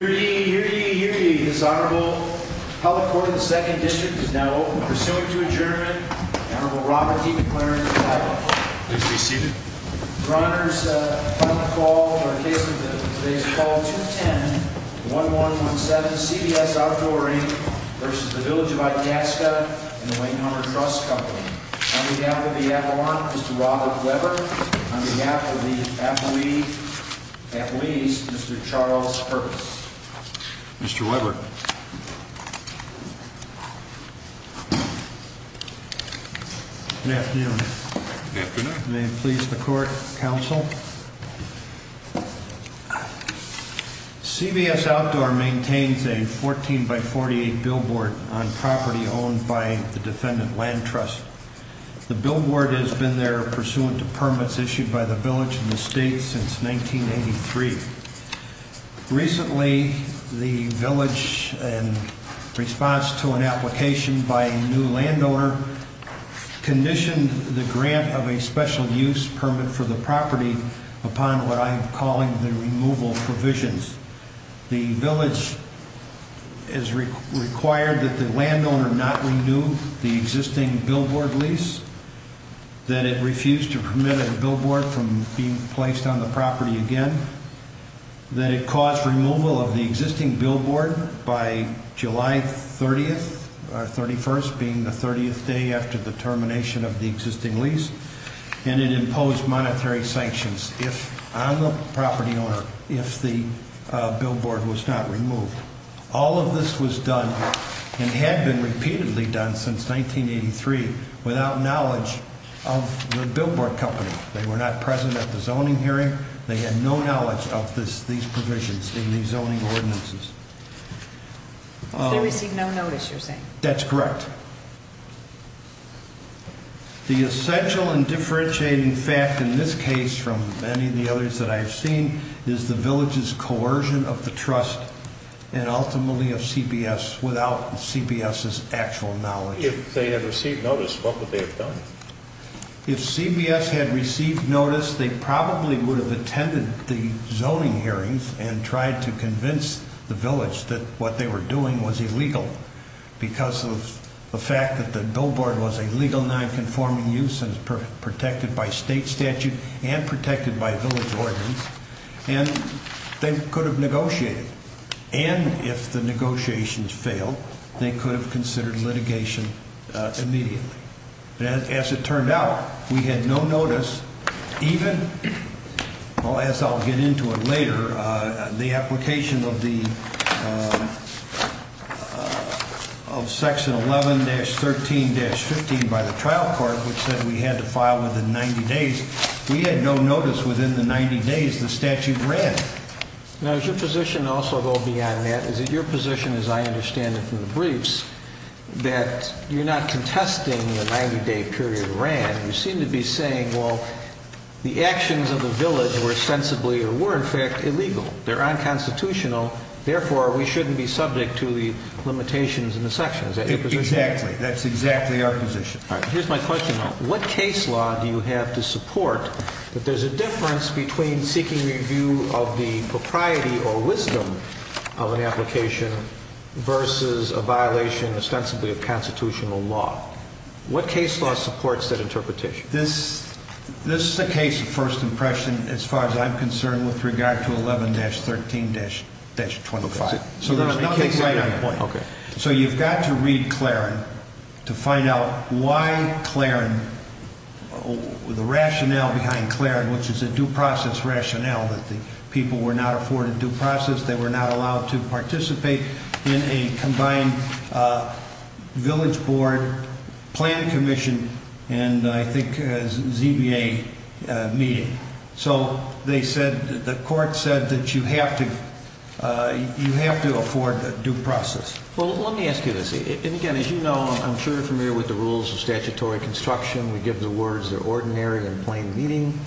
Hear ye, hear ye, hear ye, His Honorable Public Court of the 2nd District is now open. Pursuant to adjournment, the Honorable Robert D. McLaren of Iowa. Please be seated. Your Honor's final call for today's case is call 210-1117 CBS Outdoor v. Village of Itasca and the Wayne Hunter Trust Company. On behalf of the Avalon, Mr. Robert Weber. On behalf of the Athletes, Mr. Charles Purvis. Mr. Weber. Good afternoon. Good afternoon. May it please the court, counsel. CBS Outdoor maintains a 14 by 48 billboard on property owned by the defendant Land Trust. The billboard has been there pursuant to permits issued by the village and the state since 1983. Recently, the village, in response to an application by a new landowner, conditioned the grant of a special use permit for the property upon what I'm calling the removal provisions. The village has required that the landowner not renew the existing billboard lease, that it refuse to permit a billboard from being placed on the property again, that it cause removal of the existing billboard by July 30th or 31st, being the 30th day after the termination of the existing lease, and it imposed monetary sanctions. On the property owner, if the billboard was not removed. All of this was done and had been repeatedly done since 1983 without knowledge of the billboard company. They were not present at the zoning hearing. They had no knowledge of these provisions in the zoning ordinances. They received no notice, you're saying? That's correct. The essential and differentiating fact in this case from many of the others that I've seen is the village's coercion of the trust and ultimately of CBS without CBS's actual knowledge. If they had received notice, what would they have done? If CBS had received notice, they probably would have attended the zoning hearings and tried to convince the village that what they were doing was illegal because of the fact that the billboard was a legal nonconforming use and protected by state statute and protected by village ordinance, and they could have negotiated. And if the negotiations failed, they could have considered litigation immediately. As it turned out, we had no notice. Even, as I'll get into it later, the application of Section 11-13-15 by the trial court, which said we had to file within 90 days, we had no notice within the 90 days the statute ran. Now, does your position also go beyond that? Is it your position, as I understand it from the briefs, that you're not contesting the 90-day period ran? You seem to be saying, well, the actions of the village were ostensibly or were, in fact, illegal. They're unconstitutional. Therefore, we shouldn't be subject to the limitations in the section. Is that your position? Exactly. That's exactly our position. All right. Here's my question, though. What case law do you have to support that there's a difference between seeking review of the propriety or wisdom of an application versus a violation ostensibly of constitutional law? What case law supports that interpretation? This is a case of first impression, as far as I'm concerned, with regard to 11-13-25. Okay. So there are nothing right on the point. Okay. So you've got to read Claren to find out why Claren, the rationale behind Claren, which is a due process rationale that the people were not afforded due process, they were not allowed to participate in a combined village board plan commission and, I think, ZBA meeting. So they said, the court said that you have to afford a due process. Well, let me ask you this. And, again, as you know, I'm sure you're familiar with the rules of statutory construction. We give the words ordinary and plain meaning.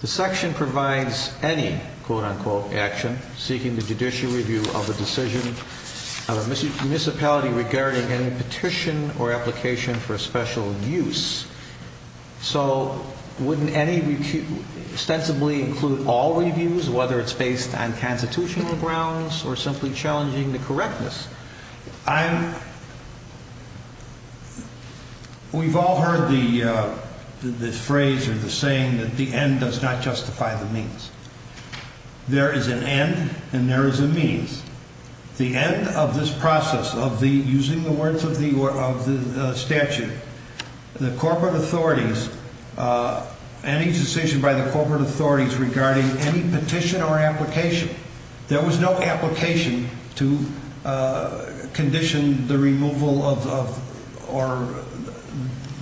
The section provides any, quote-unquote, action seeking the judicial review of a decision of a municipality regarding any petition or application for special use. So wouldn't any extensively include all reviews, whether it's based on constitutional grounds or simply challenging the correctness? We've all heard the phrase or the saying that the end does not justify the means. There is an end and there is a means. The end of this process of using the words of the statute, the corporate authorities, any decision by the corporate authorities regarding any petition or application, there was no application to condition the removal or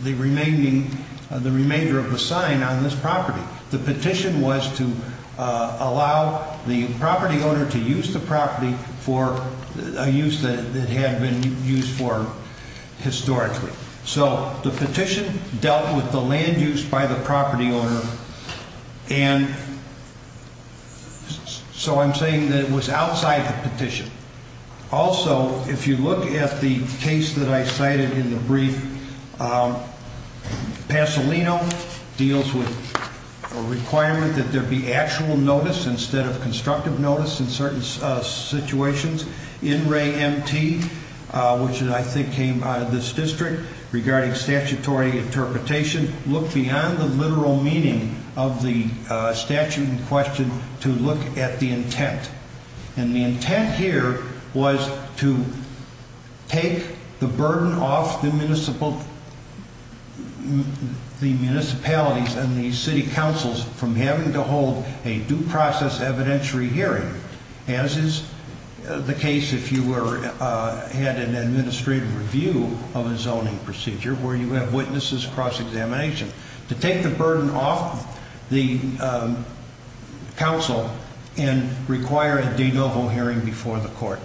the remainder of the sign on this property. The petition was to allow the property owner to use the property for a use that it had been used for historically. So the petition dealt with the land use by the property owner. And so I'm saying that it was outside the petition. Also, if you look at the case that I cited in the brief, Pasolino deals with a requirement that there be actual notice instead of constructive notice in certain situations. In re MT, which I think came out of this district, regarding statutory interpretation, the petition looked beyond the literal meaning of the statute in question to look at the intent. And the intent here was to take the burden off the municipalities and the city councils from having to hold a due process evidentiary hearing. As is the case if you had an administrative review of a zoning procedure where you have witnesses cross examination. To take the burden off the council and require a de novo hearing before the court.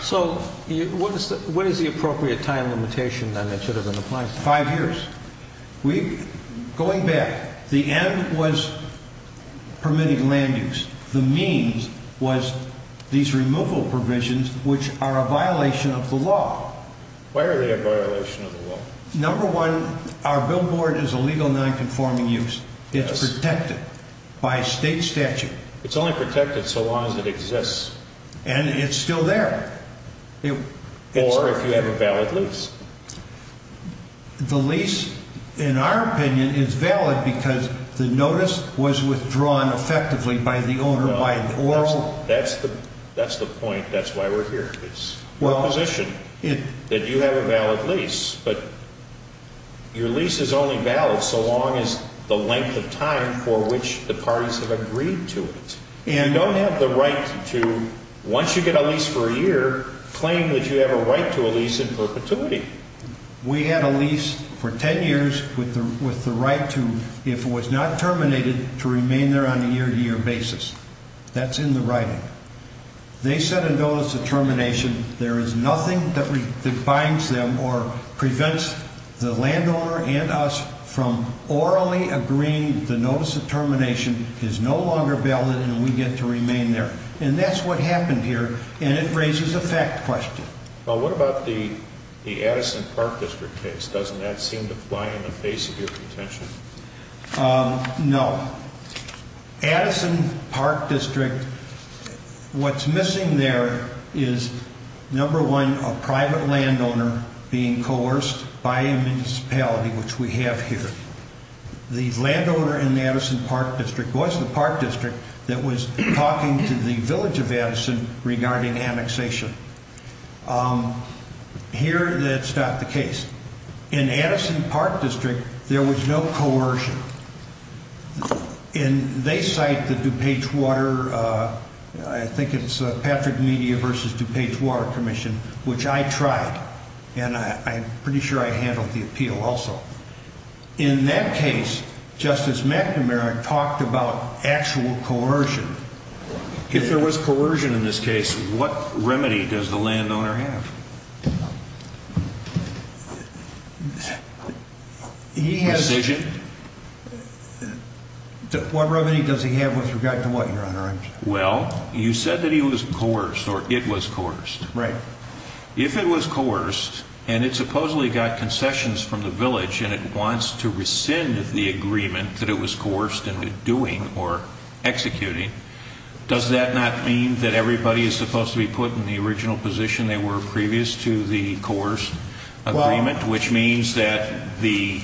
So what is the appropriate time limitation that should have been applied? Five years. Going back, the end was permitted land use. The means was these removal provisions, which are a violation of the law. Why are they a violation of the law? Number one, our billboard is a legal nonconforming use. It's protected by state statute. It's only protected so long as it exists. And it's still there. Or if you have a valid lease. The lease, in our opinion, is valid because the notice was withdrawn effectively by the owner by an oral. That's the point. That's why we're here. It's our position that you have a valid lease. But your lease is only valid so long as the length of time for which the parties have agreed to it. You don't have the right to, once you get a lease for a year, claim that you have a right to a lease in perpetuity. We had a lease for 10 years with the right to, if it was not terminated, to remain there on a year-to-year basis. That's in the writing. They sent a notice of termination. There is nothing that binds them or prevents the landowner and us from orally agreeing the notice of termination is no longer valid and we get to remain there. And that's what happened here. And it raises a fact question. Well, what about the Addison Park District case? Doesn't that seem to fly in the face of your contention? No. Addison Park District, what's missing there is, number one, a private landowner being coerced by a municipality, which we have here. The landowner in the Addison Park District was the park district that was talking to the village of Addison regarding annexation. Here, that's not the case. In Addison Park District, there was no coercion. And they cite the DuPage Water, I think it's Patrick Media v. DuPage Water Commission, which I tried, and I'm pretty sure I handled the appeal also. In that case, Justice McNamara talked about actual coercion. If there was coercion in this case, what remedy does the landowner have? Decision? What remedy does he have with regard to what, Your Honor? Well, you said that he was coerced or it was coerced. Right. If it was coerced and it supposedly got concessions from the village and it wants to rescind the agreement that it was coerced into doing or executing, does that not mean that everybody is supposed to be put in the original position they were previous to the coerced agreement? Well Which means that the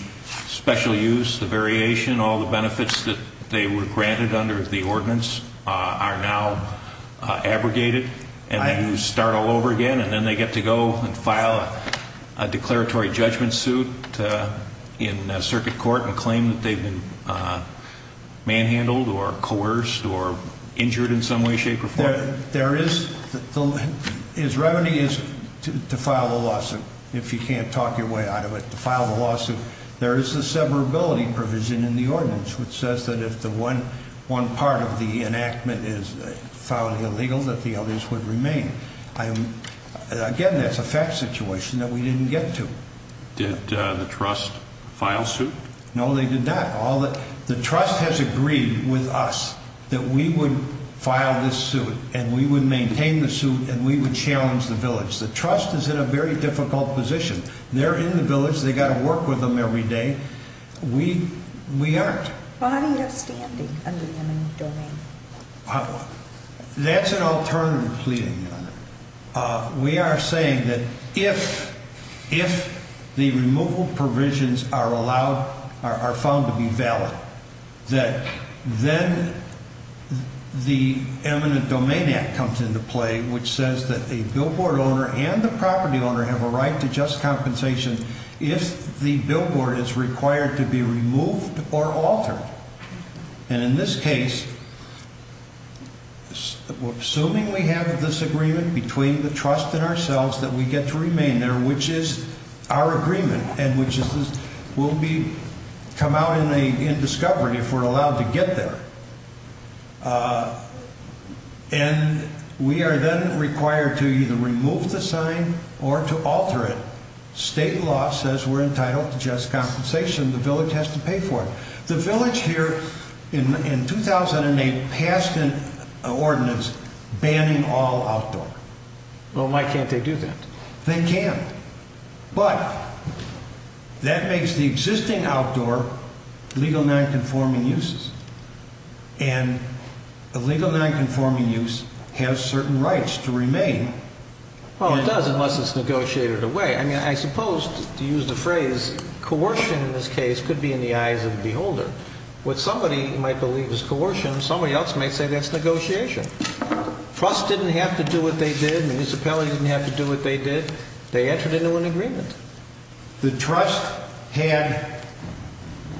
special use, the variation, all the benefits that they were granted under the ordinance are now abrogated? Right. And you start all over again and then they get to go and file a declaratory judgment suit in circuit court and claim that they've been manhandled or coerced or injured in some way, shape, or form? There is. His remedy is to file a lawsuit, if you can't talk your way out of it, to file a lawsuit. There is a severability provision in the ordinance which says that if one part of the enactment is found illegal that the others would remain. Again, that's a fact situation that we didn't get to. Did the trust file suit? No, they did not. The trust has agreed with us that we would file this suit and we would maintain the suit and we would challenge the village. The trust is in a very difficult position. They're in the village. They've got to work with them every day. We aren't. How do you have standing under the eminent domain? We are saying that if the removal provisions are allowed, are found to be valid, that then the eminent domain act comes into play, which says that a billboard owner and the property owner have a right to just compensation if the billboard is required to be removed or altered. And in this case, we're assuming we have this agreement between the trust and ourselves that we get to remain there, which is our agreement and which will come out in discovery if we're allowed to get there. And we are then required to either remove the sign or to alter it. State law says we're entitled to just compensation. The village has to pay for it. The village here in 2008 passed an ordinance banning all outdoor. Well, why can't they do that? They can. But that makes the existing outdoor legal nonconforming uses. And a legal nonconforming use has certain rights to remain. Well, it does, unless it's negotiated away. I mean, I suppose, to use the phrase, coercion in this case could be in the eyes of the beholder. What somebody might believe is coercion, somebody else might say that's negotiation. Trust didn't have to do what they did. Municipalities didn't have to do what they did. They entered into an agreement. The trust had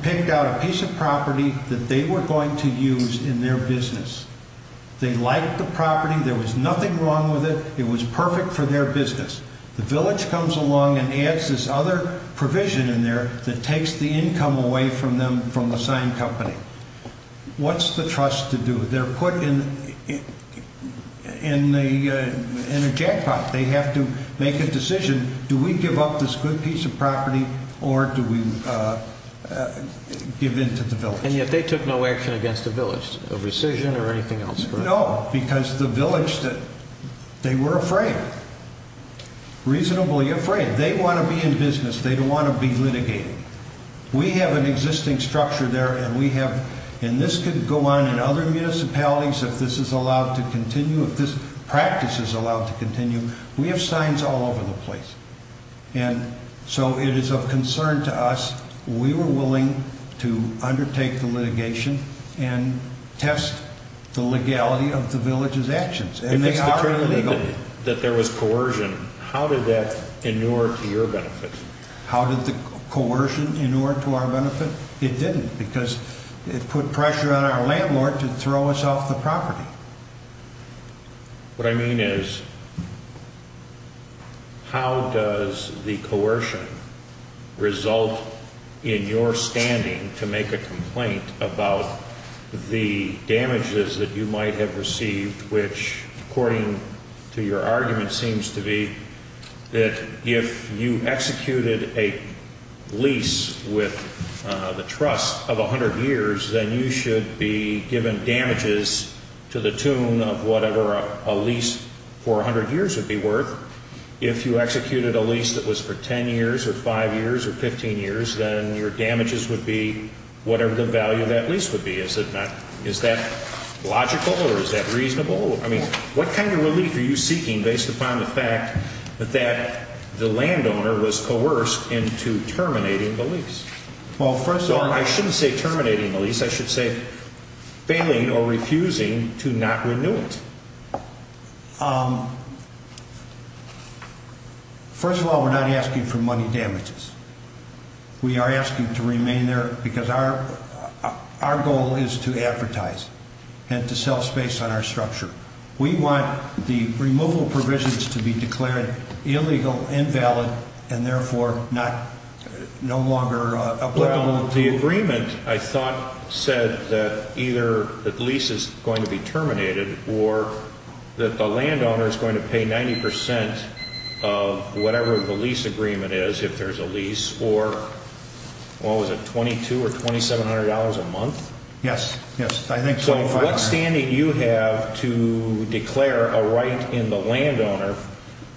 picked out a piece of property that they were going to use in their business. They liked the property. There was nothing wrong with it. It was perfect for their business. The village comes along and adds this other provision in there that takes the income away from them from the signed company. What's the trust to do? They're put in a jackpot. They have to make a decision. Do we give up this good piece of property or do we give in to the village? And yet they took no action against the village, a rescission or anything else? No, because the village, they were afraid. Reasonably afraid. They want to be in business. They don't want to be litigated. We have an existing structure there, and we have, and this could go on in other municipalities if this is allowed to continue, if this practice is allowed to continue. We have signs all over the place. And so it is of concern to us. We were willing to undertake the litigation and test the legality of the village's actions. If it's determined that there was coercion, how did that inure to your benefit? How did the coercion inure to our benefit? It didn't, because it put pressure on our landlord to throw us off the property. What I mean is, how does the coercion result in your standing to make a complaint about the damages that you might have received, which, according to your argument, seems to be that if you executed a lease with the trust of 100 years, then you should be given damages to the tune of whatever a lease for 100 years would be worth. If you executed a lease that was for 10 years or 5 years or 15 years, then your damages would be whatever the value of that lease would be. Is that logical or is that reasonable? What kind of relief are you seeking based upon the fact that the landowner was coerced into terminating the lease? I shouldn't say terminating the lease. I should say failing or refusing to not renew it. First of all, we're not asking for money damages. We are asking to remain there because our goal is to advertise and to sell space on our structure. We want the removal provisions to be declared illegal, invalid, and therefore no longer applicable. The agreement, I thought, said that either the lease is going to be terminated or that the landowner is going to pay 90% of whatever the lease agreement is, if there's a lease, or what was it, $2,200 or $2,700 a month? Yes. So what standing do you have to declare a right in the landowner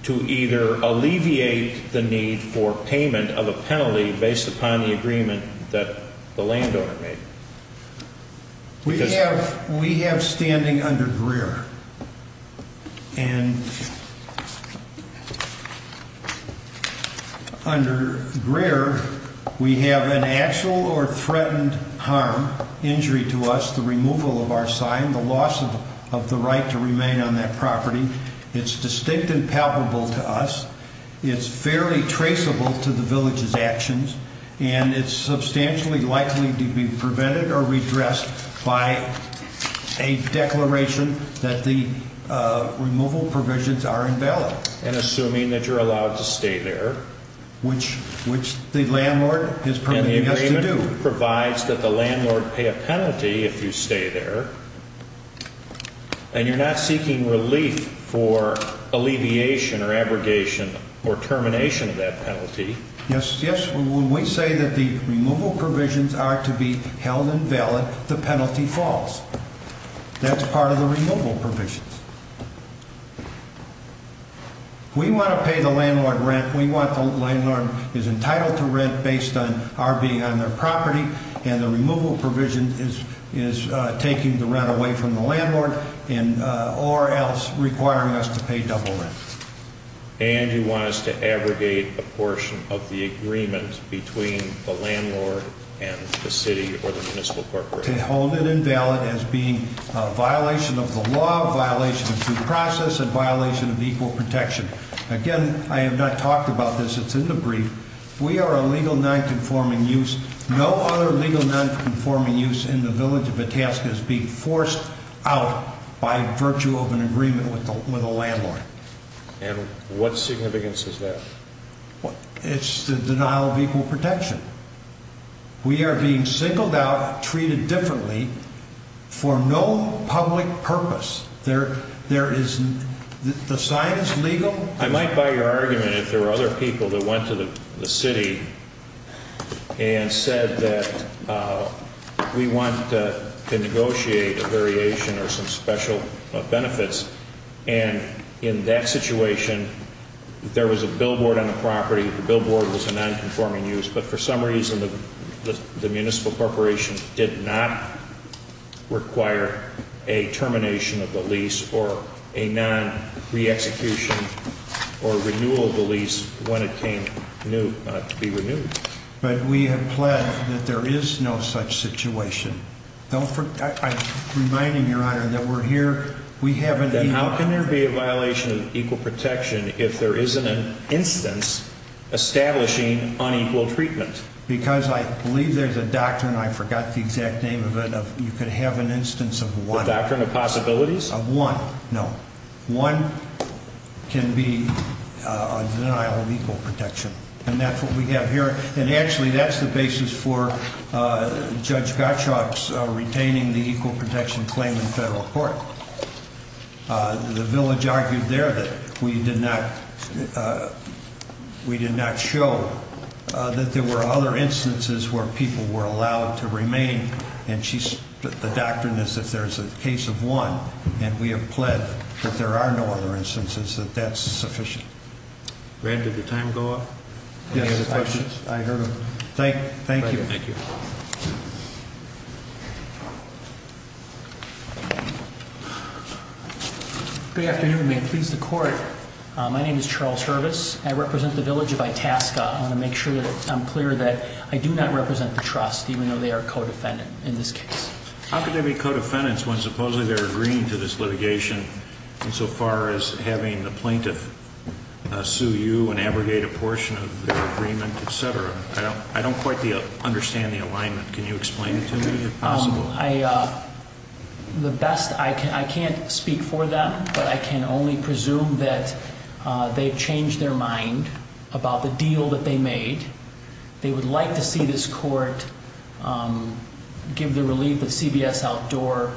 to either alleviate the need for payment of a penalty based upon the agreement that the landowner made? We have standing under Greer. Under Greer, we have an actual or threatened harm, injury to us, the removal of our sign, the loss of the right to remain on that property. It's distinct and palpable to us. It's fairly traceable to the village's actions, and it's substantially likely to be prevented or redressed by a declaration that the removal provisions are invalid. And assuming that you're allowed to stay there. Which the landlord is permitting us to do. The agreement provides that the landlord pay a penalty if you stay there, and you're not seeking relief for alleviation or abrogation or termination of that penalty. Yes. When we say that the removal provisions are to be held invalid, the penalty falls. That's part of the removal provisions. We want to pay the landlord rent. We want the landlord is entitled to rent based on our being on their property, and the removal provision is taking the rent away from the landlord or else requiring us to pay double rent. And you want us to abrogate a portion of the agreement between the landlord and the city or the municipal corporation. We want to hold it invalid as being a violation of the law, violation of due process, and violation of equal protection. Again, I have not talked about this. It's in the brief. We are a legal nonconforming use. No other legal nonconforming use in the village of Itasca is being forced out by virtue of an agreement with a landlord. And what significance is that? It's the denial of equal protection. We are being singled out and treated differently for no public purpose. The sign is legal. I might buy your argument if there were other people that went to the city and said that we want to negotiate a variation or some special benefits. And in that situation, there was a billboard on the property. The billboard was a nonconforming use. But for some reason, the municipal corporation did not require a termination of the lease or a non-re-execution or renewal of the lease when it came to be renewed. But we have pledged that there is no such situation. I remind him, Your Honor, that we're here. Then how can there be a violation of equal protection if there isn't an instance establishing unequal treatment? Because I believe there's a doctrine. I forgot the exact name of it. You could have an instance of one. The doctrine of possibilities? Of one. No. One can be a denial of equal protection. And that's what we have here. And actually, that's the basis for Judge Gottschalk's retaining the equal protection claim in federal court. The village argued there that we did not show that there were other instances where people were allowed to remain. And the doctrine is if there's a case of one, and we have pledged that there are no other instances, that that's sufficient. Brad, did the time go up? Any other questions? I heard them. Thank you. Thank you. Good afternoon. May it please the Court. My name is Charles Hervis. I represent the village of Itasca. I want to make sure that I'm clear that I do not represent the trust, even though they are co-defendant in this case. How can they be co-defendants when supposedly they're agreeing to this litigation insofar as having the plaintiff sue you and abrogate a portion of the agreement, et cetera? I don't quite understand the alignment. Can you explain it to me, if possible? I can't speak for them, but I can only presume that they've changed their mind about the deal that they made. They would like to see this court give the relief that CBS Outdoor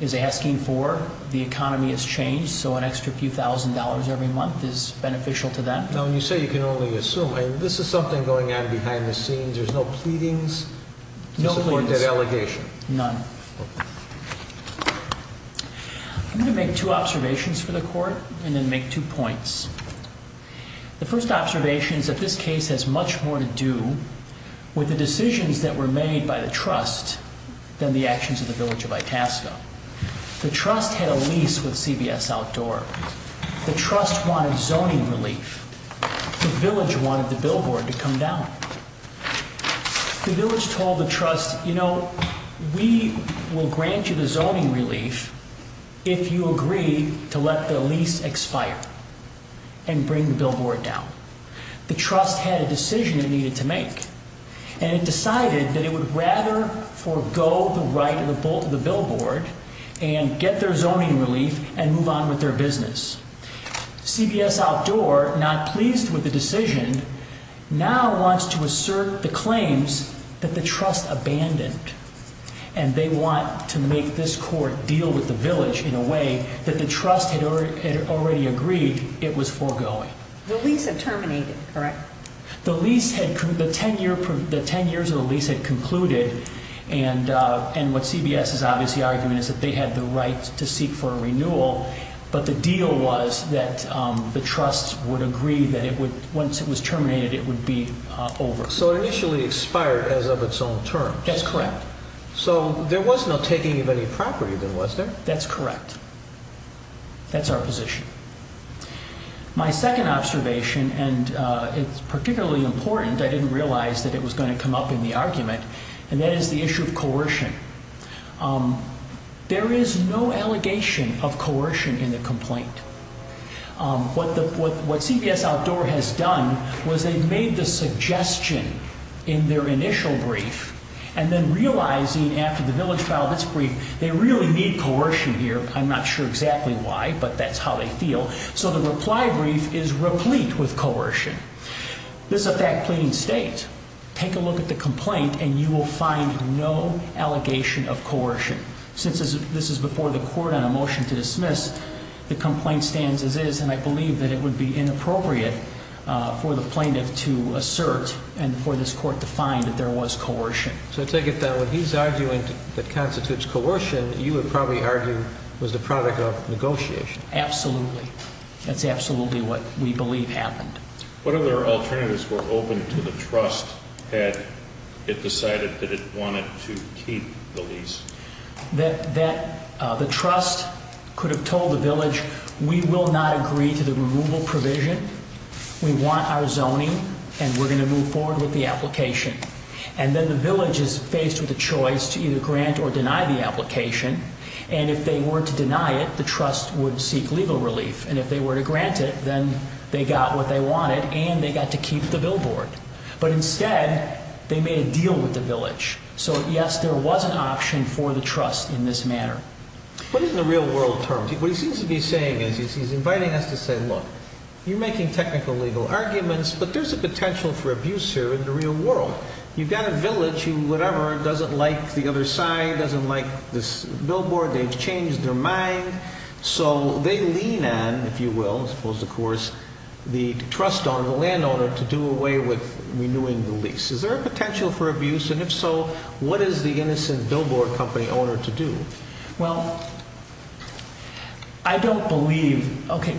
is asking for. The economy has changed, so an extra few thousand dollars every month is beneficial to them. Now, when you say you can only assume, this is something going on behind the scenes. There's no pleadings? No pleadings. No court delegation? None. I'm going to make two observations for the Court and then make two points. The first observation is that this case has much more to do with the decisions that were made by the trust than the actions of the Village of Itasca. The trust had a lease with CBS Outdoor. The trust wanted zoning relief. The village wanted the billboard to come down. The village told the trust, you know, we will grant you the zoning relief if you agree to let the lease expire and bring the billboard down. The trust had a decision it needed to make, and it decided that it would rather forego the right of the billboard and get their zoning relief and move on with their business. CBS Outdoor, not pleased with the decision, now wants to assert the claims that the trust abandoned, and they want to make this court deal with the village in a way that the trust had already agreed it was foregoing. The lease had terminated, correct? The lease had, the ten years of the lease had concluded, and what CBS is obviously arguing is that they had the right to seek for a renewal, but the deal was that the trust would agree that it would, once it was terminated, it would be over. So it initially expired as of its own terms. That's correct. So there was no taking of any property then, was there? That's correct. That's our position. My second observation, and it's particularly important, I didn't realize that it was going to come up in the argument, and that is the issue of coercion. There is no allegation of coercion in the complaint. What CBS Outdoor has done was they've made the suggestion in their initial brief, and then realizing after the village filed this brief, they really need coercion here. I'm not sure exactly why, but that's how they feel. So the reply brief is replete with coercion. This is a fact pleading state. Take a look at the complaint, and you will find no allegation of coercion. Since this is before the court on a motion to dismiss, the complaint stands as is, and I believe that it would be inappropriate for the plaintiff to assert and for this court to find that there was coercion. So take it that when he's arguing that constitutes coercion, you would probably argue it was the product of negotiation. Absolutely. That's absolutely what we believe happened. What other alternatives were open to the trust had it decided that it wanted to keep the lease? That the trust could have told the village, we will not agree to the removal provision. We want our zoning, and we're going to move forward with the application. And then the village is faced with a choice to either grant or deny the application, and if they were to deny it, the trust would seek legal relief, and if they were to grant it, then they got what they wanted, and they got to keep the billboard. But instead, they made a deal with the village. So, yes, there was an option for the trust in this manner. What is the real world term? What he seems to be saying is he's inviting us to say, look, you're making technical legal arguments, but there's a potential for abuse here in the real world. You've got a village who, whatever, doesn't like the other side, doesn't like this billboard, they've changed their mind. So they lean on, if you will, as opposed to, of course, the trust on the landowner to do away with renewing the lease. Is there a potential for abuse? And if so, what is the innocent billboard company owner to do? Well, I don't believe, okay,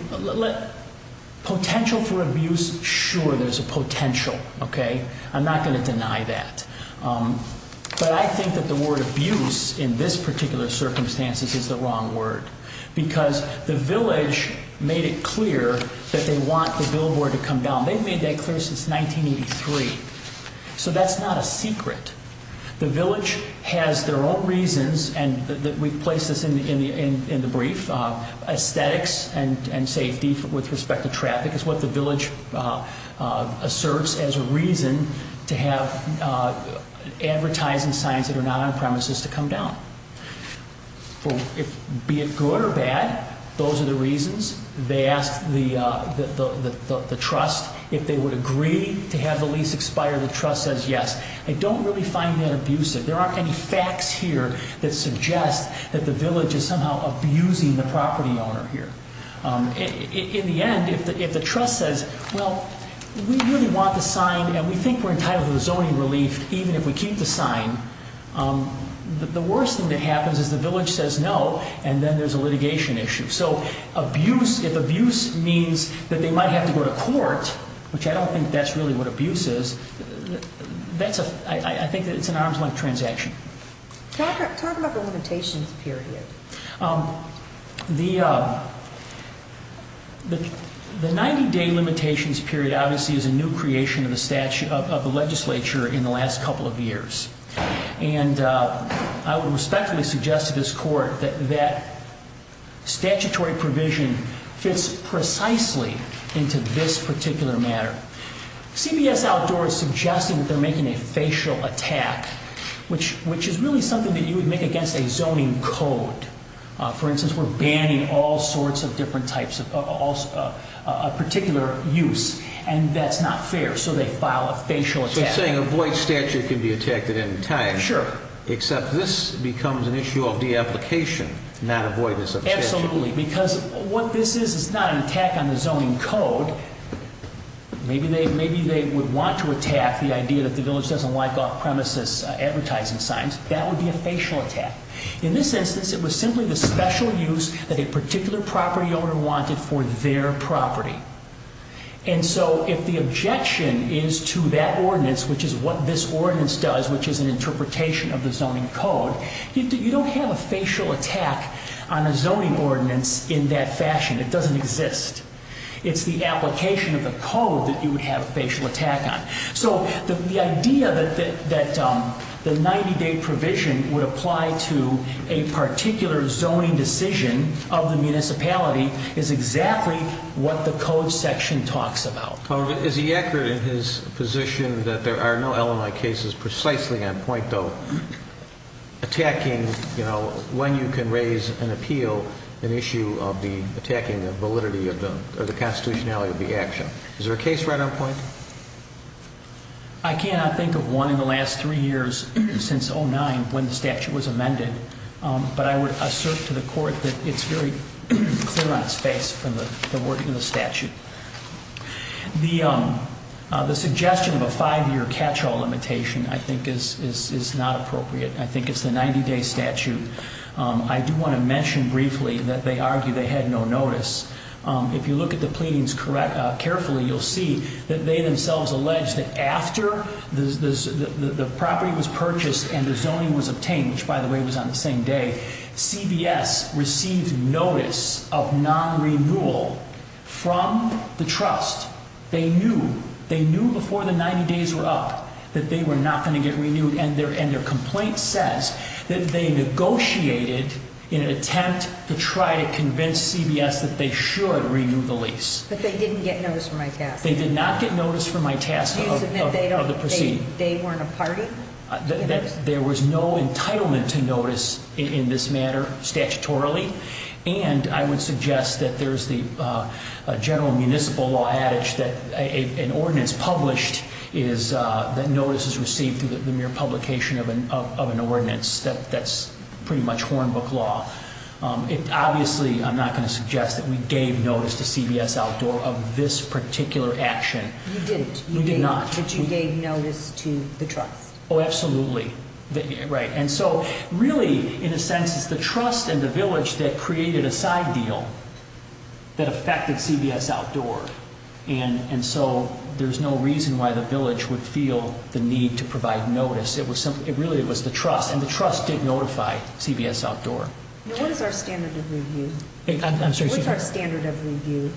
potential for abuse, sure, there's a potential, okay? I'm not going to deny that. But I think that the word abuse in this particular circumstance is the wrong word, because the village made it clear that they want the billboard to come down. They've made that clear since 1983. So that's not a secret. The village has their own reasons, and we've placed this in the brief. Aesthetics and safety with respect to traffic is what the village asserts as a reason to have advertising signs that are not on premises to come down. Be it good or bad, those are the reasons. They asked the trust if they would agree to have the lease expire. The trust says yes. I don't really find that abusive. There aren't any facts here that suggest that the village is somehow abusing the property owner here. In the end, if the trust says, well, we really want the sign, and we think we're entitled to the zoning relief even if we keep the sign, the worst thing that happens is the village says no, and then there's a litigation issue. So abuse, if abuse means that they might have to go to court, which I don't think that's really what abuse is, I think it's an arm's length transaction. Talk about the limitations period. The 90-day limitations period obviously is a new creation of the legislature in the last couple of years. And I would respectfully suggest to this court that statutory provision fits precisely into this particular matter. CBS Outdoor is suggesting that they're making a facial attack, which is really something that you would make against a zoning code. For instance, we're banning all sorts of different types of particular use, and that's not fair. So they file a facial attack. So you're saying a void statute can be attacked at any time. Sure. Except this becomes an issue of de-application, not avoidance of statute. Absolutely, because what this is is not an attack on the zoning code. Maybe they would want to attack the idea that the village doesn't like off-premises advertising signs. That would be a facial attack. In this instance, it was simply the special use that a particular property owner wanted for their property. And so if the objection is to that ordinance, which is what this ordinance does, which is an interpretation of the zoning code, you don't have a facial attack on a zoning ordinance in that fashion. It doesn't exist. It's the application of the code that you would have a facial attack on. So the idea that the 90-day provision would apply to a particular zoning decision of the municipality is exactly what the code section talks about. Is he accurate in his position that there are no LMI cases precisely on point, though, attacking, you know, when you can raise an appeal, an issue of attacking the validity or the constitutionality of the action? Is there a case right on point? I cannot think of one in the last three years since 2009 when the statute was amended. But I would assert to the court that it's very clear on its face from the wording of the statute. The suggestion of a five-year catch-all limitation, I think, is not appropriate. I think it's the 90-day statute. I do want to mention briefly that they argue they had no notice. If you look at the pleadings carefully, you'll see that they themselves allege that after the property was purchased and the zoning was obtained, which, by the way, was on the same day, CBS received notice of non-renewal from the trust. They knew before the 90 days were up that they were not going to get renewed, and their complaint says that they negotiated in an attempt to try to convince CBS that they should renew the lease. But they didn't get notice from ITAS. They did not get notice from ITAS of the proceeding. Do you submit they weren't a party? There was no entitlement to notice in this matter statutorily, and I would suggest that there's the general municipal law adage that an ordinance published is that notice is received through the mere publication of an ordinance. That's pretty much hornbook law. Obviously, I'm not going to suggest that we gave notice to CBS Outdoor of this particular action. You didn't. We did not. But you gave notice to the trust. Oh, absolutely. Right. And so really, in a sense, it's the trust and the village that created a side deal that affected CBS Outdoor, and so there's no reason why the village would feel the need to provide notice. It really was the trust, and the trust did notify CBS Outdoor. Now, what is our standard of review? I'm sorry. What's our standard of review?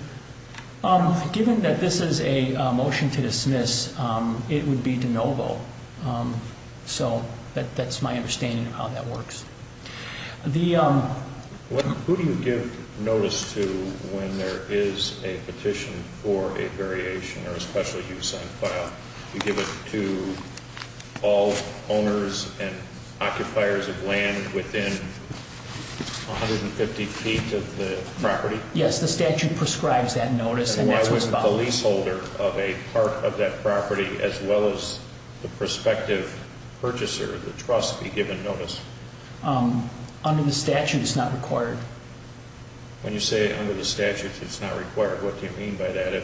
Given that this is a motion to dismiss, it would be de novo. So that's my understanding of how that works. Who do you give notice to when there is a petition for a variation or a special use on file? Do you give it to all owners and occupiers of land within 150 feet of the property? Yes, the statute prescribes that notice. And why wouldn't the leaseholder of a part of that property as well as the prospective purchaser of the trust be given notice? Under the statute, it's not required. When you say under the statute, it's not required, what do you mean by that?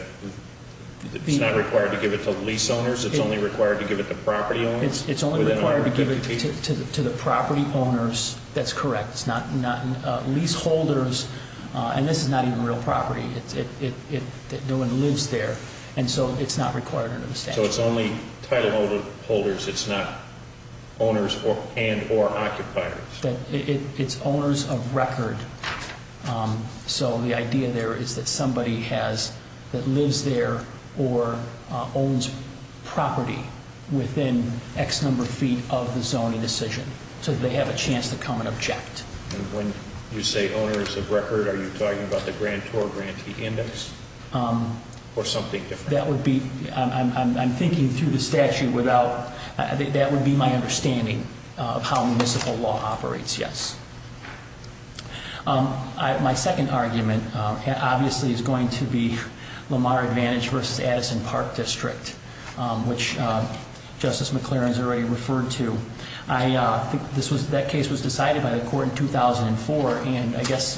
It's not required to give it to lease owners? It's only required to give it to property owners? It's only required to give it to the property owners. That's correct. Leaseholders, and this is not even real property, no one lives there, and so it's not required under the statute. So it's only title holders, it's not owners and or occupiers? It's owners of record. So the idea there is that somebody that lives there or owns property within X number of feet of the zoning decision, so they have a chance to come and object. And when you say owners of record, are you talking about the grantor grantee index or something different? That would be, I'm thinking through the statute without, that would be my understanding of how municipal law operates, yes. My second argument obviously is going to be Lamar Advantage versus Addison Park District, which Justice McLaren has already referred to. That case was decided by the court in 2004, and I guess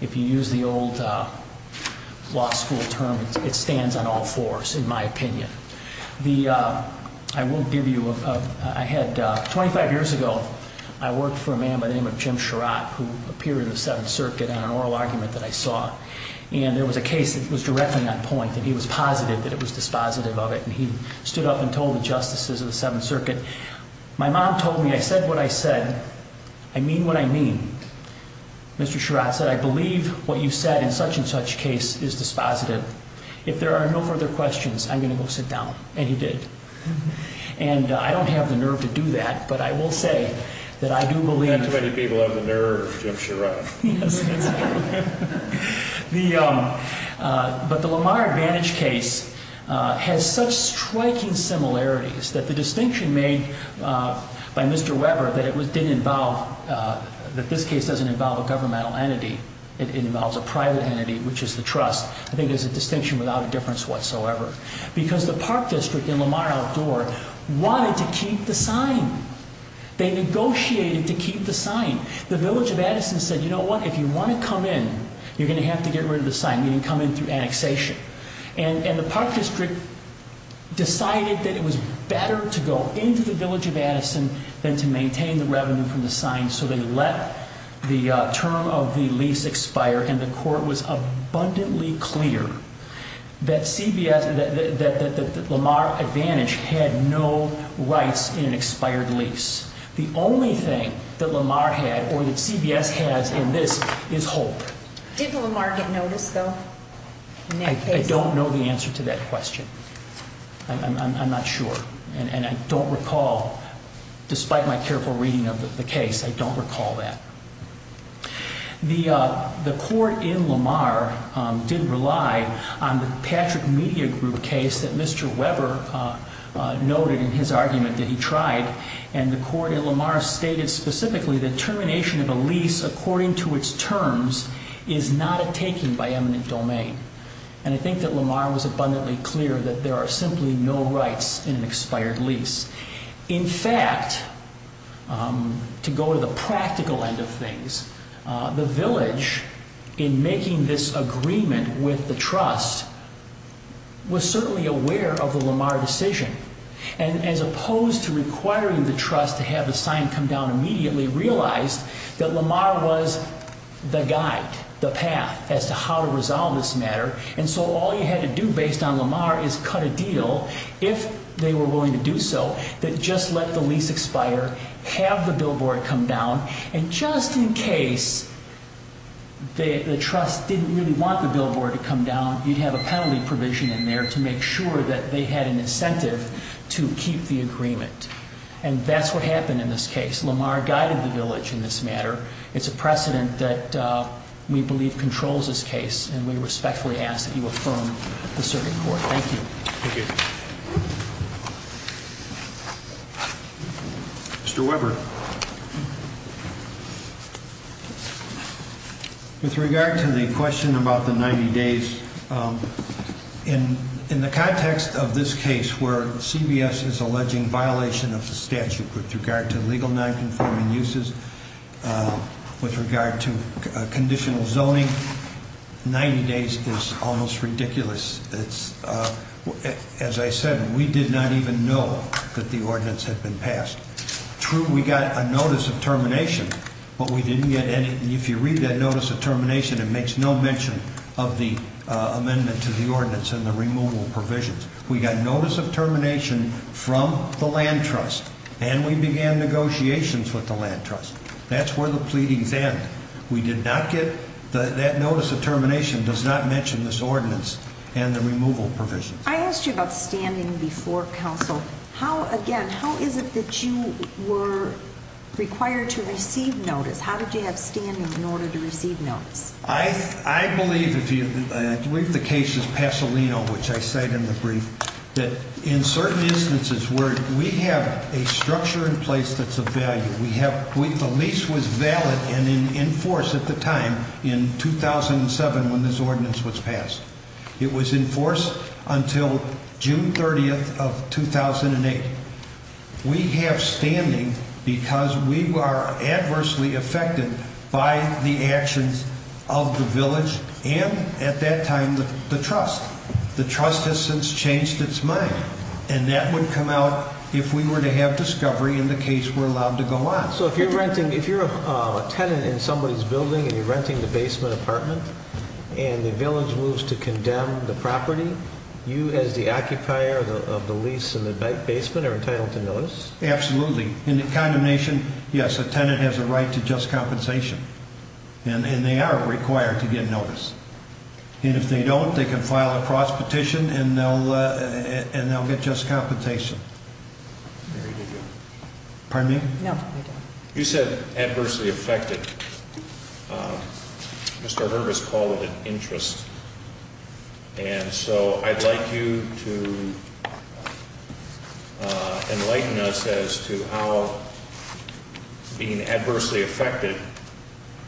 if you use the old law school term, it stands on all fours in my opinion. I won't give you, I had 25 years ago, I worked for a man by the name of Jim Sherratt, who appeared in the Seventh Circuit on an oral argument that I saw. And there was a case that was directly on point, and he was positive that it was dispositive of it. And he stood up and told the justices of the Seventh Circuit, my mom told me I said what I said, I mean what I mean. Mr. Sherratt said, I believe what you said in such and such case is dispositive. If there are no further questions, I'm going to go sit down, and he did. And I don't have the nerve to do that, but I will say that I do believe- Not too many people have the nerve, Jim Sherratt. But the Lamar Advantage case has such striking similarities that the distinction made by Mr. Weber that it didn't involve, that this case doesn't involve a governmental entity, it involves a private entity, which is the trust, I think is a distinction without a difference whatsoever. Because the Park District and Lamar Outdoor wanted to keep the sign. They negotiated to keep the sign. The Village of Addison said, you know what, if you want to come in, you're going to have to get rid of the sign, meaning come in through annexation. And the Park District decided that it was better to go into the Village of Addison than to maintain the revenue from the sign, so they let the term of the lease expire, and the court was abundantly clear that Lamar Advantage had no rights in an expired lease. The only thing that Lamar had, or that CBS has in this, is hope. Did Lamar get notice, though? I don't know the answer to that question. I'm not sure. And I don't recall, despite my careful reading of the case, I don't recall that. The court in Lamar did rely on the Patrick Media Group case that Mr. Weber noted in his argument that he tried, and the court in Lamar stated specifically that termination of a lease according to its terms is not a taking by eminent domain. And I think that Lamar was abundantly clear that there are simply no rights in an expired lease. In fact, to go to the practical end of things, the village, in making this agreement with the trust, was certainly aware of the Lamar decision. And as opposed to requiring the trust to have the sign come down immediately, realized that Lamar was the guide, the path, as to how to resolve this matter. And so all you had to do, based on Lamar, is cut a deal, if they were willing to do so, that just let the lease expire, have the billboard come down, and just in case the trust didn't really want the billboard to come down, you'd have a penalty provision in there to make sure that they had an incentive to keep the agreement. And that's what happened in this case. Lamar guided the village in this matter. It's a precedent that we believe controls this case, and we respectfully ask that you affirm the circuit court. Thank you. Thank you. Mr. Weber. With regard to the question about the 90 days, in the context of this case, where CBS is alleging violation of the statute with regard to legal nonconforming uses, with regard to conditional zoning, 90 days is almost ridiculous. As I said, we did not even know that the ordinance had been passed. True, we got a notice of termination, but we didn't get any. And if you read that notice of termination, it makes no mention of the amendment to the ordinance and the removal provisions. We got notice of termination from the land trust, and we began negotiations with the land trust. That's where the pleadings end. We did not get that notice of termination does not mention this ordinance and the removal provisions. I asked you about standing before counsel. How, again, how is it that you were required to receive notice? How did you have standing in order to receive notice? I believe the case is Pasolino, which I cite in the brief, that in certain instances where we have a structure in place that's of value, the lease was valid and in force at the time in 2007 when this ordinance was passed. It was in force until June 30th of 2008. We have standing because we are adversely affected by the actions of the village and at that time the trust. The trust has since changed its mind, and that would come out if we were to have discovery in the case we're allowed to go on. So if you're renting, if you're a tenant in somebody's building and you're renting the basement apartment and the village moves to condemn the property, you as the occupier of the lease and the basement are entitled to notice? Absolutely. In a condemnation, yes, a tenant has a right to just compensation, and they are required to get notice. And if they don't, they can file a cross petition and they'll get just compensation. There you go. Pardon me? No. You said adversely affected. Mr. Hervis called it an interest. And so I'd like you to enlighten us as to how being adversely affected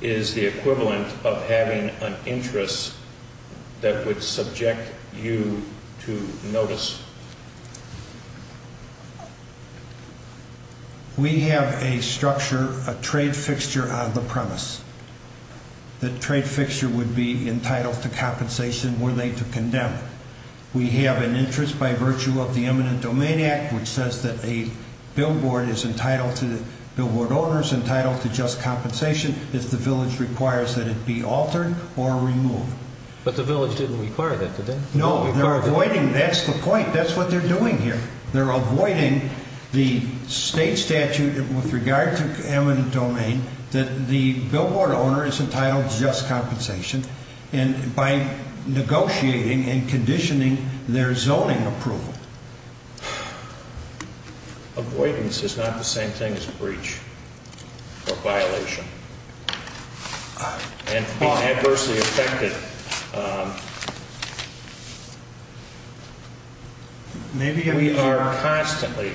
is the equivalent of having an interest that would subject you to notice. We have a structure, a trade fixture on the premise. The trade fixture would be entitled to compensation were they to condemn. We have an interest by virtue of the Eminent Domain Act, which says that a billboard is entitled to, billboard owners entitled to just compensation if the village requires that it be altered or removed. But the village didn't require that, did they? No, they're avoiding, that's the point. That's what they're doing here. They're avoiding the state statute with regard to eminent domain that the billboard owner is entitled to just compensation by negotiating and conditioning their zoning approval. Avoidance is not the same thing as breach or violation. And being adversely affected, we are constantly,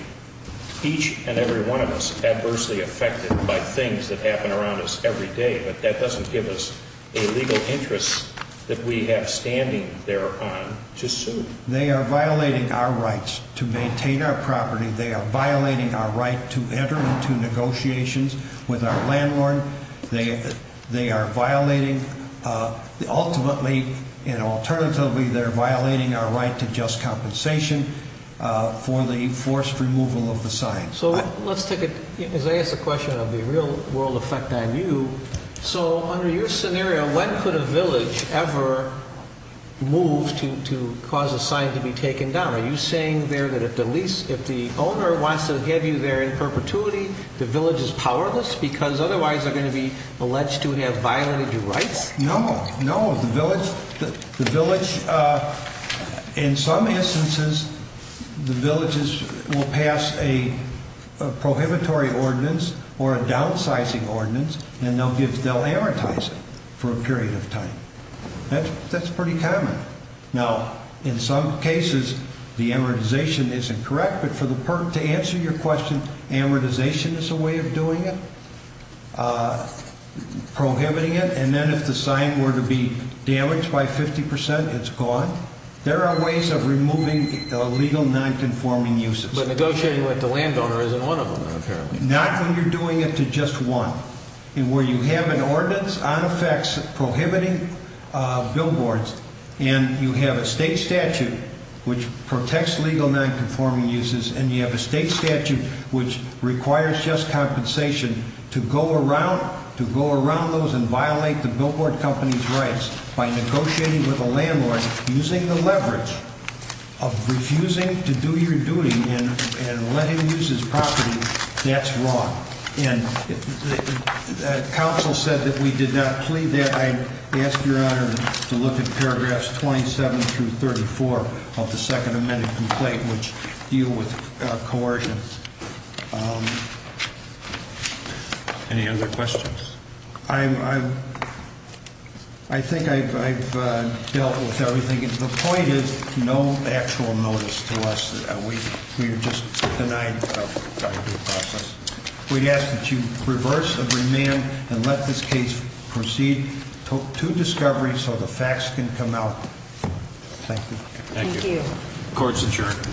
each and every one of us, adversely affected by things that happen around us every day. But that doesn't give us a legal interest that we have standing thereon to sue. They are violating our rights to maintain our property. They are violating our right to enter into negotiations with our landlord. They are violating, ultimately and alternatively, they're violating our right to just compensation for the forced removal of the sign. So let's take it, as I ask the question of the real world effect on you. So under your scenario, when could a village ever move to cause a sign to be taken down? Are you saying there that if the lease, if the owner wants to have you there in perpetuity, the village is powerless because otherwise they're going to be alleged to have violated your rights? No, no. The village, in some instances, the villages will pass a prohibitory ordinance or a downsizing ordinance, and they'll amortize it for a period of time. That's pretty common. Now, in some cases, the amortization isn't correct, but for the purpose to answer your question, amortization is a way of doing it, prohibiting it, and then if the sign were to be damaged by 50 percent, it's gone. There are ways of removing illegal nonconforming uses. But negotiating with the landowner isn't one of them, apparently. Not when you're doing it to just one. Where you have an ordinance on effects prohibiting billboards, and you have a state statute which protects legal nonconforming uses, and you have a state statute which requires just compensation to go around those and violate the billboard company's rights by negotiating with a landlord using the leverage of refusing to do your duty and letting him use his property, that's wrong. The council said that we did not plead that. I ask your honor to look at paragraphs 27 through 34 of the second amended complaint, which deal with coercion. Any other questions? I think I've dealt with everything. The point is, no actual notice to us. We are just denied the process. We ask that you reverse and remand and let this case proceed to discovery so the facts can come out. Thank you. Thank you. Court is adjourned.